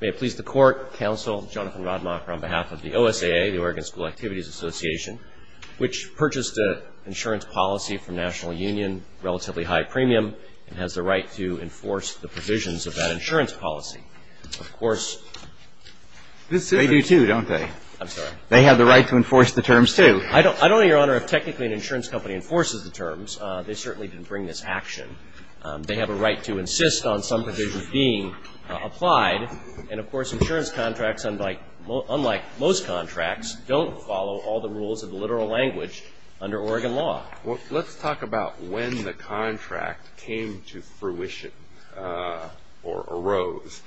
May it please the Court, Counsel, Jonathan Rodmacher on behalf of the OSAA, the Oregon School Activities Association, which purchased an insurance policy from National Union, relatively high premium, and has the right to enforce the provisions of that insurance policy. Of course... They do too, don't they? I'm sorry? They have the right to enforce the terms too. I don't know, Your Honor, if technically an insurance company enforces the terms. They certainly didn't bring this action. They have a right to insist on some provisions being applied. And, of course, insurance contracts, unlike most contracts, don't follow all the rules of the literal language under Oregon law. Let's talk about when the contract came to fruition or arose.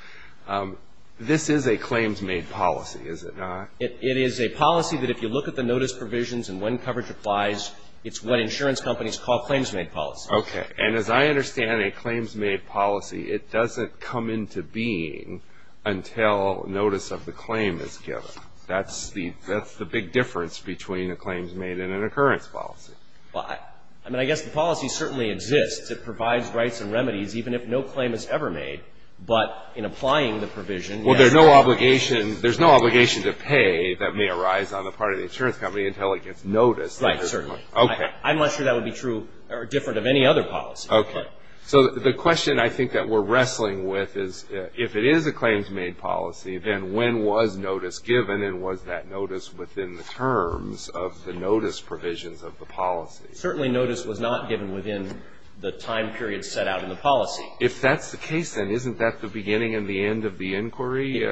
This is a claims-made policy, is it not? It is a policy that if you look at the notice provisions and when coverage applies, it's what insurance companies call claims-made policy. Okay. And as I understand it, claims-made policy, it doesn't come into being until notice of the claim is given. That's the big difference between a claims-made and an occurrence policy. I mean, I guess the policy certainly exists. It provides rights and remedies even if no claim is ever made. But in applying the provision... Well, there's no obligation to pay that may arise on the part of the insurance company until it gets noticed. Right, certainly. Okay. I'm not sure that would be true or different of any other policy. Okay. So the question I think that we're wrestling with is if it is a claims-made policy, then when was notice given and was that notice within the terms of the notice provisions of the policy? Certainly notice was not given within the time period set out in the policy. If that's the case, then isn't that the beginning and the end of the inquiry?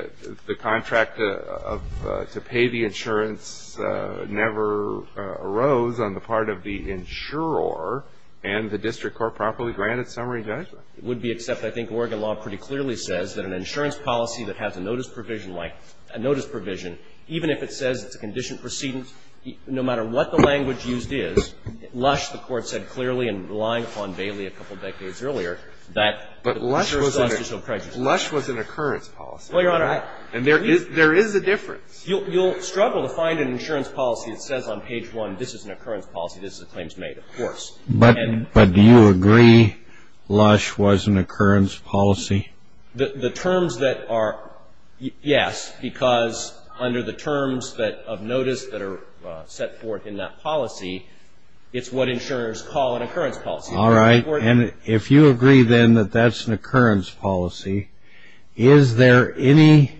The contract to pay the insurance never arose on the part of the insurer and the district court properly granted summary judgment. It would be, except I think Oregon law pretty clearly says that an insurance policy that has a notice provision, even if it says it's a condition precedence, no matter what the language used is, Lush, the Court said clearly in relying upon Bailey a couple decades earlier, that... But Lush was an occurrence policy. Well, Your Honor, I... And there is a difference. You'll struggle to find an insurance policy that says on page 1, this is an occurrence policy, this is a claims-made, of course. But do you agree Lush was an occurrence policy? The terms that are, yes, because under the terms of notice that are set forth in that policy, it's what insurers call an occurrence policy. All right. And if you agree, then, that that's an occurrence policy, is there any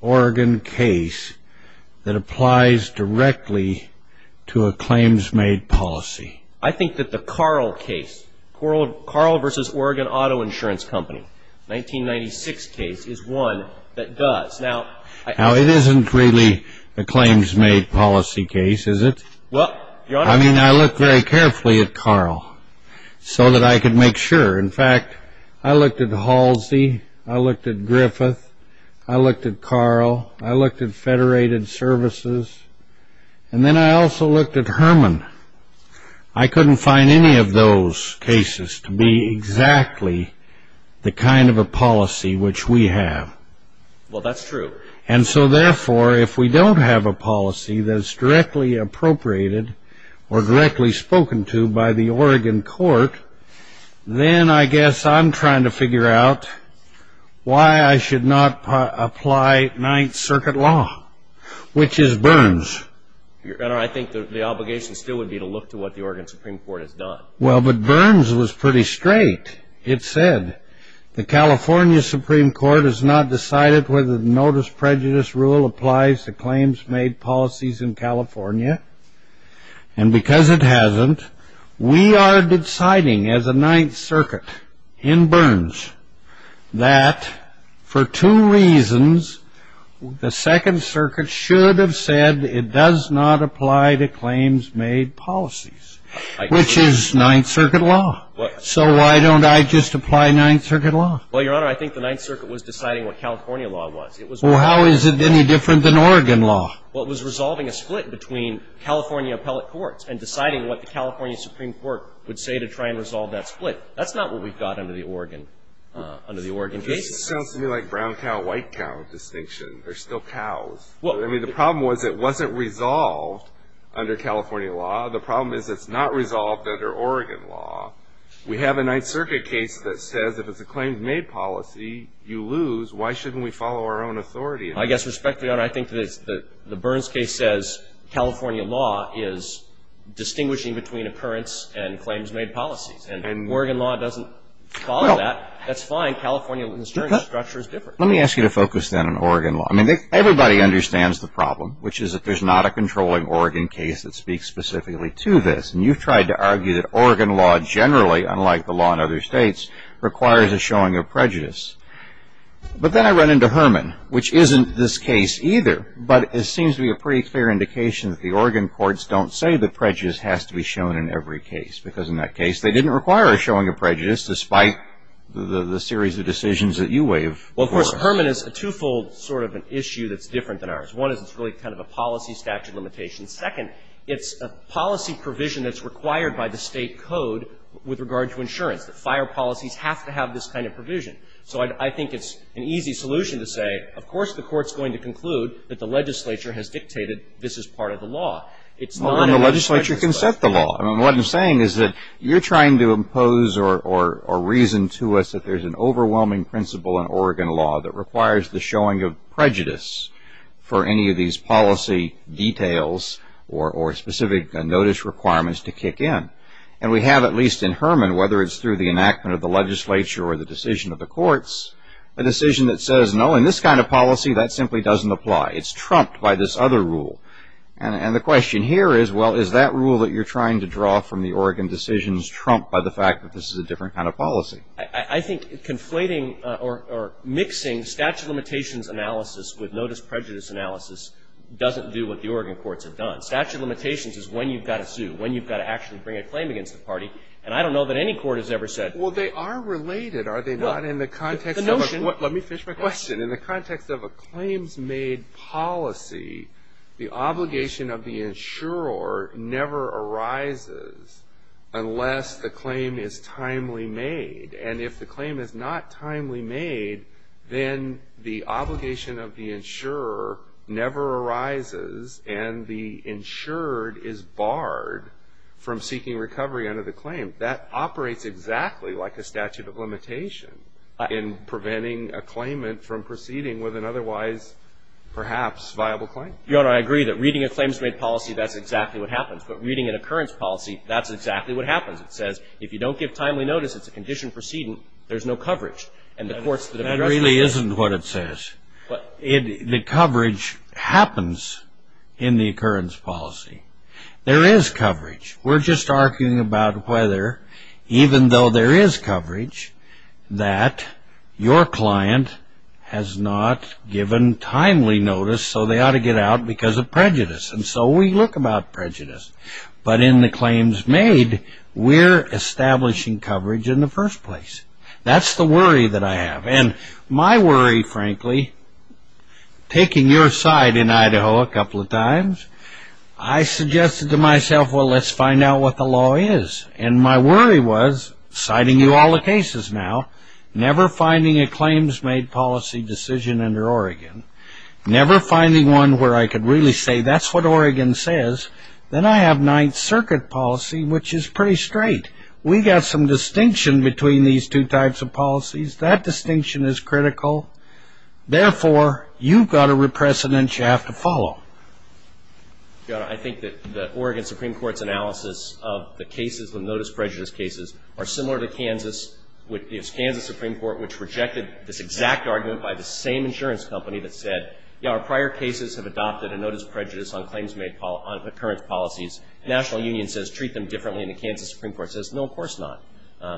Oregon case that applies directly to a claims-made policy? I think that the Carl case, Carl v. Oregon Auto Insurance Company, 1996 case, is one that does. Now, I... Now, it isn't really a claims-made policy case, is it? Well, Your Honor... I mean, I looked very carefully at Carl so that I could make sure. In fact, I looked at Halsey, I looked at Griffith, I looked at Carl, I looked at Federated Services, and then I also looked at Herman. I couldn't find any of those cases to be exactly the kind of a policy which we have. Well, that's true. And so, therefore, if we don't have a policy that's directly appropriated or directly spoken to by the Oregon court, then I guess I'm trying to figure out why I should not apply Ninth Circuit law, which is Burns. Your Honor, I think the obligation still would be to look to what the Oregon Supreme Court has done. Well, but Burns was pretty straight. It said, the California Supreme Court has not decided whether the Notice Prejudice Rule applies to claims-made policies in California. And because it hasn't, we are deciding as a Ninth Circuit in Burns that, for two reasons, the Second Circuit should have said it does not apply to claims-made policies, which is Ninth Circuit law. So why don't I just apply Ninth Circuit law? Well, Your Honor, I think the Ninth Circuit was deciding what California law was. Well, how is it any different than Oregon law? Well, it was resolving a split between California appellate courts and deciding what the California Supreme Court would say to try and resolve that split. That's not what we've got under the Oregon case. This sounds to me like brown cow, white cow distinction. They're still cows. I mean, the problem was it wasn't resolved under California law. The problem is it's not resolved under Oregon law. We have a Ninth Circuit case that says if it's a claims-made policy, you lose. Why shouldn't we follow our own authority? I guess, respectfully, Your Honor, I think that the Burns case says California law is distinguishing between occurrence and claims-made policies. And Oregon law doesn't follow that. That's fine. California's structure is different. Let me ask you to focus then on Oregon law. I mean, everybody understands the problem, which is that there's not a controlling Oregon case that speaks specifically to this. And you've tried to argue that Oregon law generally, unlike the law in other states, requires a showing of prejudice. But then I run into Herman, which isn't this case either. But it seems to be a pretty clear indication that the Oregon courts don't say that prejudice has to be shown in every case, because in that case, they didn't require a showing of prejudice, despite the series of decisions that you waive. Well, of course, Herman is a twofold sort of an issue that's different than ours. One is it's really kind of a policy statute limitation. Second, it's a policy provision that's required by the state code with regard to insurance, that fire policies have to have this kind of provision. So I think it's an easy solution to say, of course, the court's going to conclude that the legislature has dictated this is part of the law. It's not a legislation. Well, then the legislature can set the law. I mean, what I'm saying is that you're trying to impose or reason to us that there's an overwhelming principle in Oregon law that requires the showing of prejudice for any of these policy details or specific notice requirements to kick in. And we have, at least in Herman, whether it's through the enactment of the legislature or the decision of the courts, a decision that says, no, in this kind of policy, that simply doesn't apply. It's trumped by this other rule. And the question here is, well, is that rule that you're trying to draw from the Oregon decisions trumped by the fact that this is a different kind of policy? I think conflating or mixing statute of limitations analysis with notice prejudice analysis doesn't do what the Oregon courts have done. Statute of limitations is when you've got to sue, when you've got to actually bring a claim against the party. And I don't know that any court has ever said that. Well, they are related, are they not? In the context of a claims-made policy, the obligation of the insurer never arises unless the claim is timely made. And if the claim is not timely made, then the obligation of the insurer never arises and the insured is barred from seeking recovery under the claim. That operates exactly like a statute of limitation in preventing a claimant from proceeding with an otherwise, perhaps, viable claim. Your Honor, I agree that reading a claims-made policy, that's exactly what happens. But reading an occurrence policy, that's exactly what happens. It says, if you don't give timely notice, it's a conditioned precedent, there's no coverage. And the courts that have addressed this say that. That really isn't what it says. The coverage happens in the occurrence policy. There is coverage. We're just arguing about whether, even though there is coverage, that your client has not given timely notice, so they ought to get out because of prejudice. And so we look about prejudice. But in the claims-made, we're establishing coverage in the first place. That's the worry that I have. And my worry, frankly, taking your side in Idaho a couple of times, I suggested to myself, well, let's find out what the law is. And my worry was, citing you all the cases now, never finding a claims-made policy decision under Oregon, never finding one where I could really say, that's what Oregon says, then I have Ninth Circuit policy, which is pretty straight. We got some distinction between these two types of policies. That distinction is critical. Therefore, you've got a precedent you have to follow. I think that the Oregon Supreme Court's analysis of the cases, the notice prejudice cases, are similar to Kansas, which is Kansas Supreme Court, which rejected this exact argument by the same insurance company that said, yeah, our prior cases have adopted a notice prejudice on claims-made on occurrence policies. National Union says, treat them differently. And the Kansas Supreme Court says, no, of course not.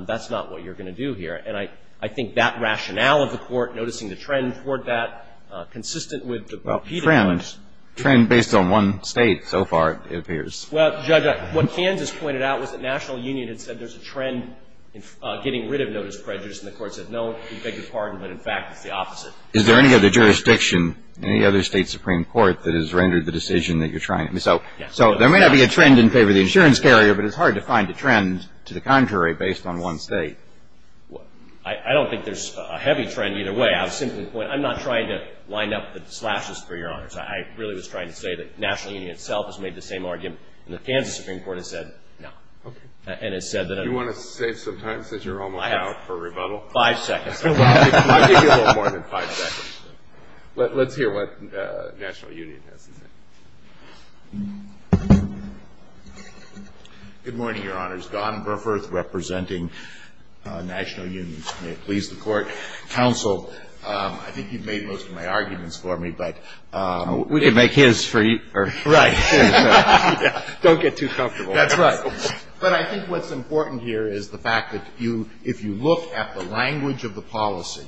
That's not what you're going to do here. And I think that rationale of the Court, noticing the trend toward that, consistent with the repeated claims. Well, trend, trend based on one State so far, it appears. Well, Judge, what Kansas pointed out was that National Union had said there's a trend in getting rid of notice prejudice. And the Court said, no, we beg your pardon, but in fact, it's the opposite. Is there any other jurisdiction, any other State Supreme Court, that has rendered the decision that you're trying to? So there may not be a trend in favor of the insurance carrier, but it's hard to find a trend to the contrary based on one State. I don't think there's a heavy trend either way. I'll simply point out, I'm not trying to line up the slashes for Your Honors. I really was trying to say that National Union itself has made the same argument. And the Kansas Supreme Court has said, no. Okay. And has said that. Do you want to say sometimes that you're almost out for rebuttal? Five seconds. I'll give you a little more than five seconds. Let's hear what National Union has to say. Good morning, Your Honors. Don Burforth representing National Union. May it please the Court. Counsel, I think you've made most of my arguments for me, but. We can make his for you. Right. Don't get too comfortable. That's right. But I think what's important here is the fact that if you look at the language of the policy,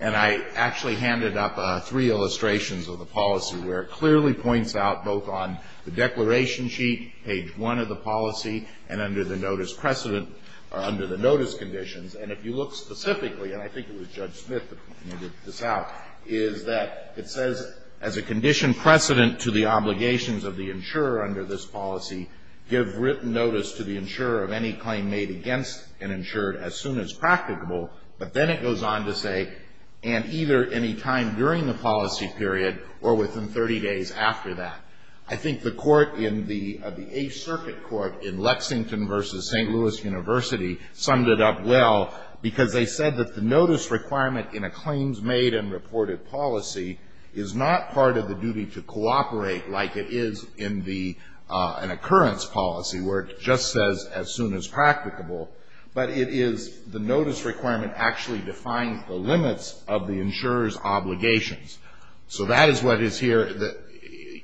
and I actually handed up three illustrations of the policy where it clearly points out both on the declaration sheet, page one of the policy, and under the notice precedent or under the notice conditions. And if you look specifically, and I think it was Judge Smith that pointed this out, is that it says as a condition precedent to the obligations of the insurer under this policy, give written notice to the insurer of any claim made against an insured as soon as practicable. But then it goes on to say and either any time during the policy period or within 30 days after that. I think the court in the Eighth Circuit Court in Lexington versus St. Louis University summed it up well because they said that the notice requirement in a claims made and reported policy is not part of the duty to cooperate like it is in an occurrence policy where it just says as soon as practicable. But it is the notice requirement actually defines the limits of the insurer's obligations. So that is what is here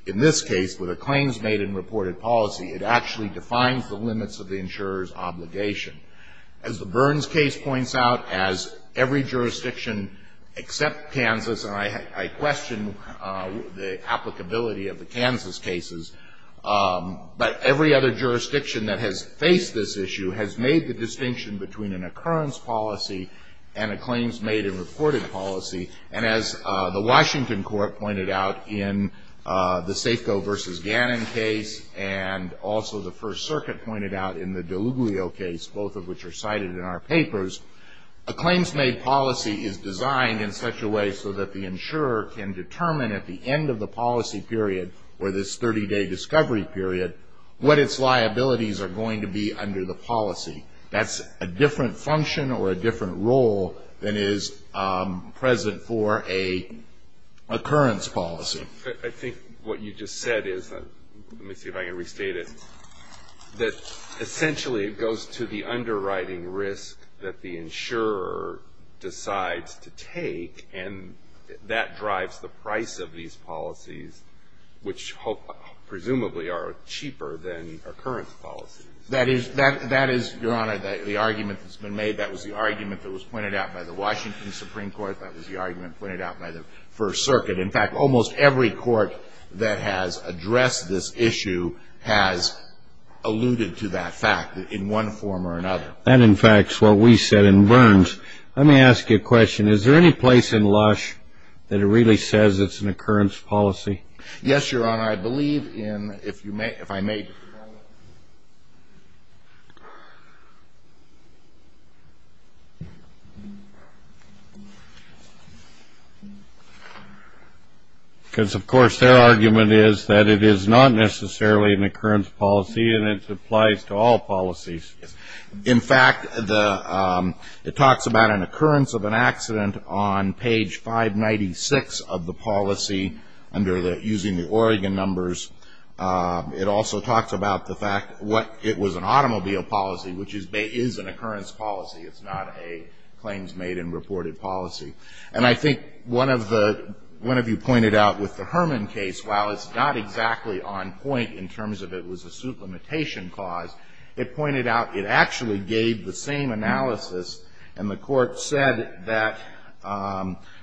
in this case with a claims made and reported policy. It actually defines the limits of the insurer's obligation. As the Burns case points out, as every jurisdiction except Kansas, and I question the applicability of the Kansas cases, but every other jurisdiction that has faced this issue has made the distinction between an occurrence policy and a claims made and reported policy. And as the Washington court pointed out in the Safeco versus Gannon case and also the First Circuit pointed out in the Deluglio case, both of which are cited in our papers, a claims made policy is designed in such a way so that the insurer can determine at the end of the policy period or this 30-day discovery period what its liabilities are going to be under the policy. That's a different function or a different role than is present for a occurrence policy. I think what you just said is, let me see if I can restate it, that essentially it goes to the underwriting risk that the insurer decides to take, and that drives the price of these policies, which presumably are cheaper than occurrence policies. That is, Your Honor, the argument that's been made. That was the argument that was pointed out by the Washington Supreme Court. That was the argument pointed out by the First Circuit. In fact, almost every court that has addressed this issue has alluded to that fact in one form or another. That, in fact, is what we said in Burns. Let me ask you a question. Is there any place in Lush that it really says it's an occurrence policy? Yes, Your Honor. I believe in, if you may, if I may. Because, of course, their argument is that it is not necessarily an occurrence policy and it applies to all policies. In fact, the, it talks about an occurrence of an accident on page 596 of the policy under the, using the Oregon numbers. It also talks about the fact what, it was an automobile policy, which is an occurrence policy. It's not a claims made and reported policy. And I think one of the, one of you pointed out with the Herman case, while it's not exactly on point in terms of it was a suit limitation clause, it pointed out it actually gave the same analysis. And the Court said that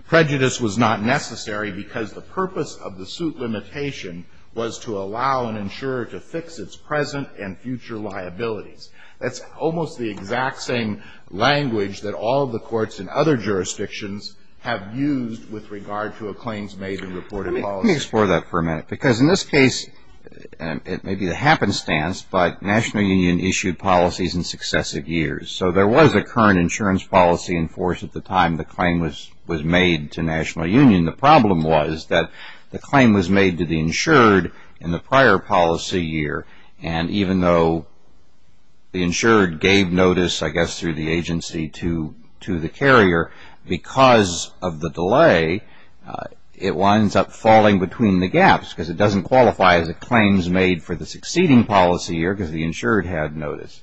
prejudice was not necessary because the purpose of the suit limitation was to allow an insurer to fix its present and future liabilities. That's almost the exact same language that all of the courts in other jurisdictions have used with regard to a claims made and reported policy. Let me explore that for a minute. Because in this case, it may be the happenstance, but National Union issued policies in successive years. So there was a current insurance policy in force at the time the claim was made to National Union. The problem was that the claim was made to the insured in the prior policy year. And even though the insured gave notice, I guess, through the agency to the carrier, because of the delay, it winds up falling between the gaps because it doesn't qualify as a claims made for the succeeding policy year because the insured had notice.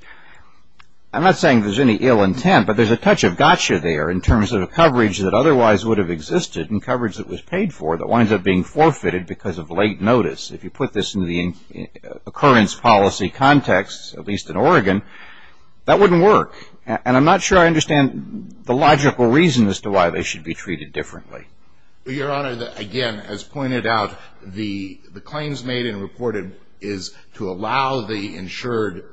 I'm not saying there's any ill intent, but there's a touch of gotcha there in terms of the coverage that otherwise would have existed and coverage that was paid for that winds up being forfeited because of late notice. If you put this in the occurrence policy context, at least in Oregon, that wouldn't work. And I'm not sure I understand the logical reason as to why they should be treated differently. Your Honor, again, as pointed out, the claims made and reported is to allow the insurer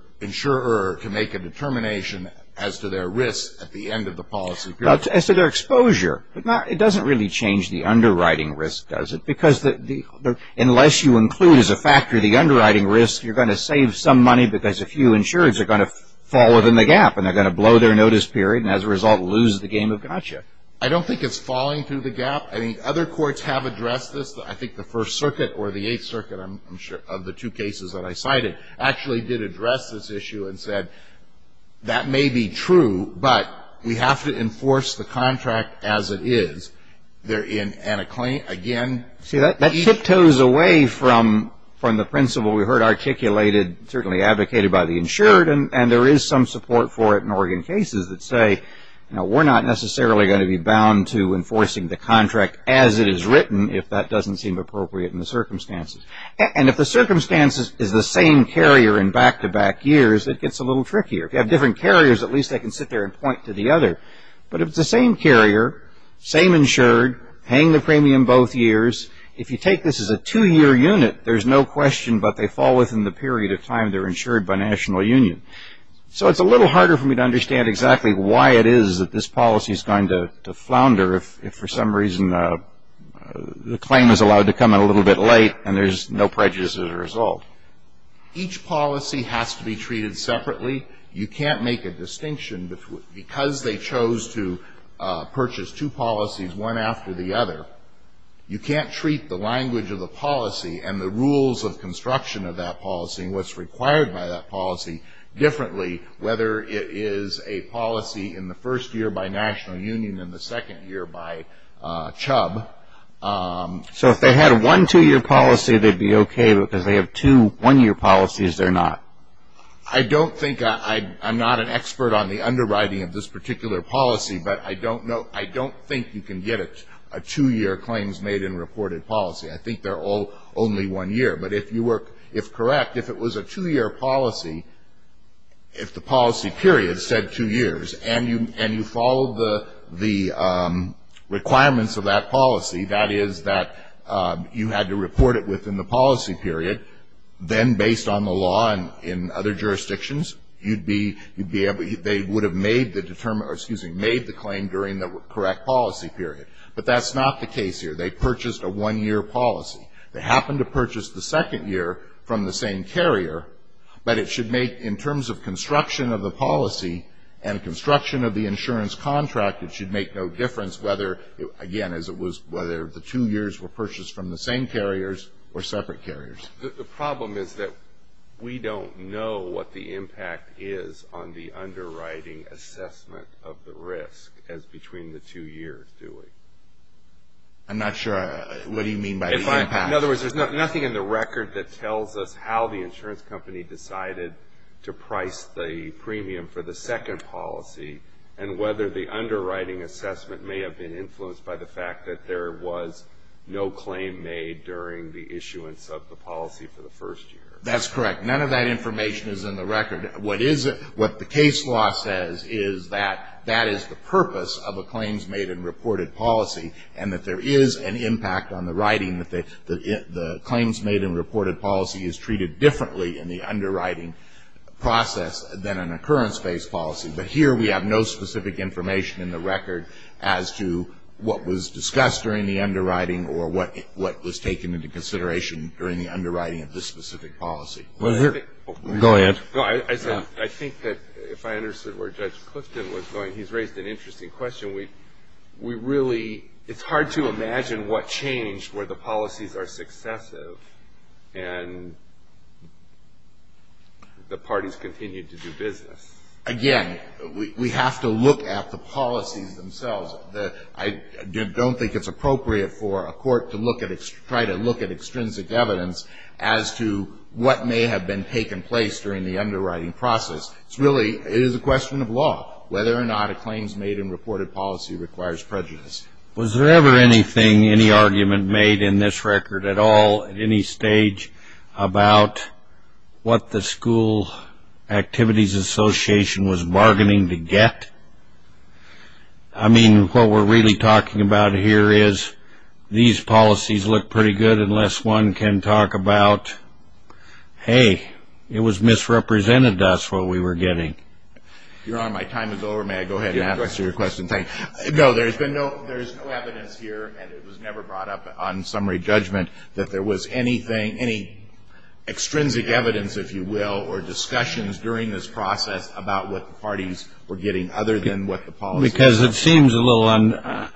to make a determination as to their risk at the end of the policy period. As to their exposure. It doesn't really change the underwriting risk, does it? Because unless you include as a factor the underwriting risk, you're going to save some money because a few insurers are going to fall within the gap and they're going to blow their notice period and as a result lose the game of gotcha. I don't think it's falling through the gap. I think other courts have addressed this. I think the First Circuit or the Eighth Circuit, I'm sure, of the two cases that I cited, actually did address this issue and said, that may be true, but we have to enforce the contract as it is. They're in, and a claim, again. See, that tiptoes away from the principle we heard articulated, certainly advocated by the insured, and there is some support for it in Oregon cases that say, you know, we're not necessarily going to be bound to enforcing the contract as it is written if that doesn't seem appropriate in the circumstances. And if the circumstances is the same carrier in back-to-back years, it gets a little trickier. If you have different carriers, at least they can sit there and point to the other. But if it's the same carrier, same insured, paying the premium both years, if you take this as a two-year unit, there's no question, but they fall within the period of time they're insured by national union. So it's a little harder for me to understand exactly why it is that this policy is going to flounder if for some reason the claim is allowed to come in a little bit late and there's no prejudice as a result. Each policy has to be treated separately. You can't make a distinction. Because they chose to purchase two policies one after the other, you can't treat the language of the policy and the rules of construction of that policy and what's required by that policy differently, whether it is a policy in the first year by national union and the second year by chub. So if they had one two-year policy, they'd be okay, but because they have two one-year policies, they're not? I don't think I'm not an expert on the underwriting of this particular policy, but I don't think you can get a two-year claims made in reported policy. I think they're all only one year. But if you were correct, if it was a two-year policy, if the policy period said two years and you followed the requirements of that policy, that is that you had to report it within the policy period, then based on the law and in other jurisdictions, you'd be able to they would have made the claim during the correct policy period. But that's not the case here. They purchased a one-year policy. They happened to purchase the second year from the same carrier, but it should make, in terms of construction of the policy and construction of the insurance contract, it should make no difference whether, again, as it was whether the two years were purchased from the same carriers or separate carriers. The problem is that we don't know what the impact is on the underwriting assessment of the risk as between the two years, do we? I'm not sure what you mean by the impact. In other words, there's nothing in the record that tells us how the insurance company decided to price the premium for the second policy and whether the underwriting assessment may have been influenced by the fact that there was no claim made during the issuance of the policy for the first year. That's correct. None of that information is in the record. What the case law says is that that is the purpose of a claims-made-and-reported policy and that there is an impact on the writing that the claims-made-and-reported policy is treated differently in the underwriting process than an occurrence-based policy. But here we have no specific information in the record as to what was discussed during the underwriting or what was taken into consideration during the underwriting of this specific policy. Go ahead. I think that if I understood where Judge Clifton was going, he's raised an interesting question. It's hard to imagine what changed where the policies are successive and the parties continue to do business. Again, we have to look at the policies themselves. I don't think it's appropriate for a court to try to look at extrinsic evidence as to what may have been taken place during the underwriting process. It's really a question of law, whether or not a claims-made-and-reported policy requires prejudice. Was there ever anything, any argument made in this record at all, at any stage, about what the School Activities Association was bargaining to get? I mean, what we're really talking about here is these policies look pretty good unless one can talk about, hey, it was misrepresented to us what we were getting. Your Honor, my time is over. May I go ahead and answer your question? No, there's no evidence here, and it was never brought up on summary judgment, that there was anything, any extrinsic evidence, if you will, or discussions during this process about what the parties were getting other than what the policies were. Because it seems a little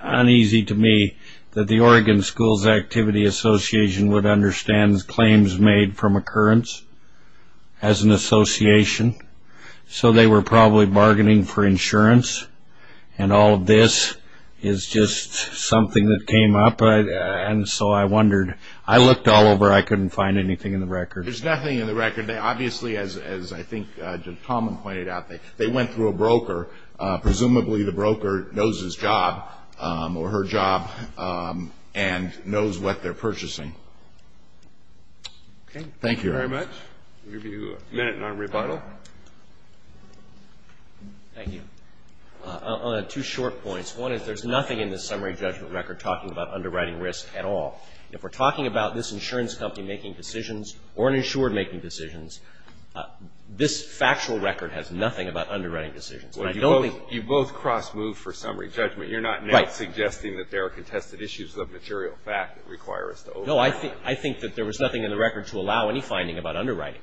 uneasy to me that the Oregon Schools Activity Association would understand claims made from occurrence as an association. So they were probably bargaining for insurance, and all of this is just something that came up. And so I wondered. I looked all over. I couldn't find anything in the record. There's nothing in the record. Obviously, as I think Tom pointed out, they went through a broker. Presumably, the broker knows his job or her job and knows what they're purchasing. Okay. Thank you, Your Honor. Thank you very much. We'll give you a minute on rebuttal. Thank you. I'll add two short points. One is there's nothing in the summary judgment record talking about underwriting risk at all. If we're talking about this insurance company making decisions or an insurer making decisions, this factual record has nothing about underwriting decisions. You both cross-moved for summary judgment. You're not suggesting that there are contested issues of material fact that require us to overwrite. No, I think that there was nothing in the record to allow any finding about underwriting,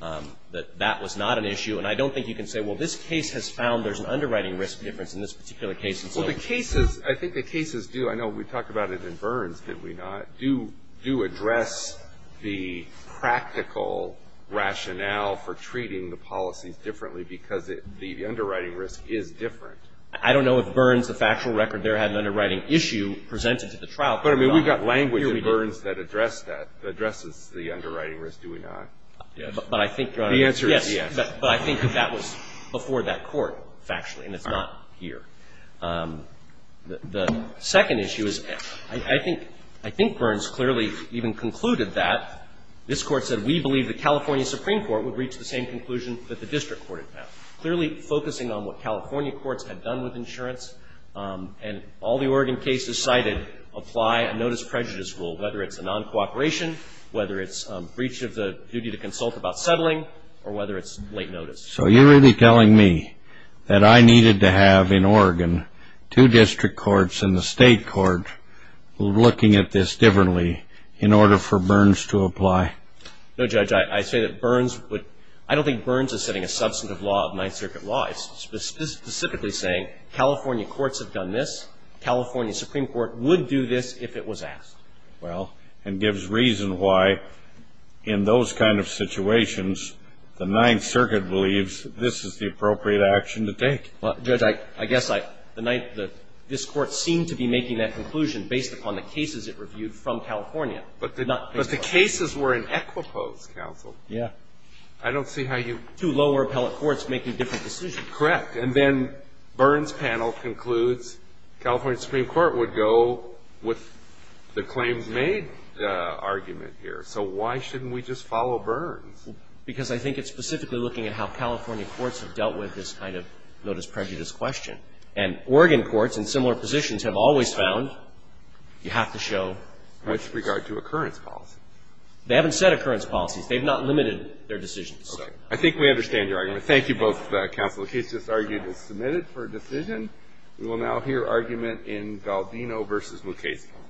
that that was not an issue. And I don't think you can say, well, this case has found there's an underwriting risk difference in this particular case. Well, the cases, I think the cases do. I know we talked about it in Burns, did we not, do address the practical rationale for treating the policies differently because the underwriting risk is different? I don't know if Burns, the factual record there had an underwriting issue presented to the trial. But I mean, we've got language in Burns that addressed that, addresses the underwriting risk, do we not? But I think, Your Honor, yes. The answer is yes. But I think that that was before that court, factually, and it's not here. The second issue is I think Burns clearly even concluded that. This Court said we believe the California Supreme Court would reach the same conclusion that the district court had had, clearly focusing on what California courts had done with insurance. And all the Oregon cases cited apply a notice prejudice rule, whether it's a non-cooperation, whether it's breach of the duty to consult about settling, or whether it's late notice. So you're really telling me that I needed to have in Oregon two district courts and the state court looking at this differently in order for Burns to apply? No, Judge. I say that Burns would – I don't think Burns is setting a substantive law of Ninth Circuit law. It's specifically saying California courts have done this. California Supreme Court would do this if it was asked. Well, and gives reason why, in those kind of situations, the Ninth Circuit believes this is the appropriate action to take. Well, Judge, I guess I – this Court seemed to be making that conclusion based upon the cases it reviewed from California. But the cases were in Equipo's counsel. Yeah. I don't see how you – Two lower appellate courts making different decisions. Correct. And then Burns' panel concludes California Supreme Court would go with the claims made argument here. So why shouldn't we just follow Burns? Because I think it's specifically looking at how California courts have dealt with this kind of notice prejudice question. And Oregon courts in similar positions have always found you have to show – With regard to occurrence policy. They haven't set occurrence policies. They've not limited their decisions. Okay. I think we understand your argument. Thank you, both counsel. The case just argued is submitted for decision. We will now hear argument in Valdino v. Mukasey.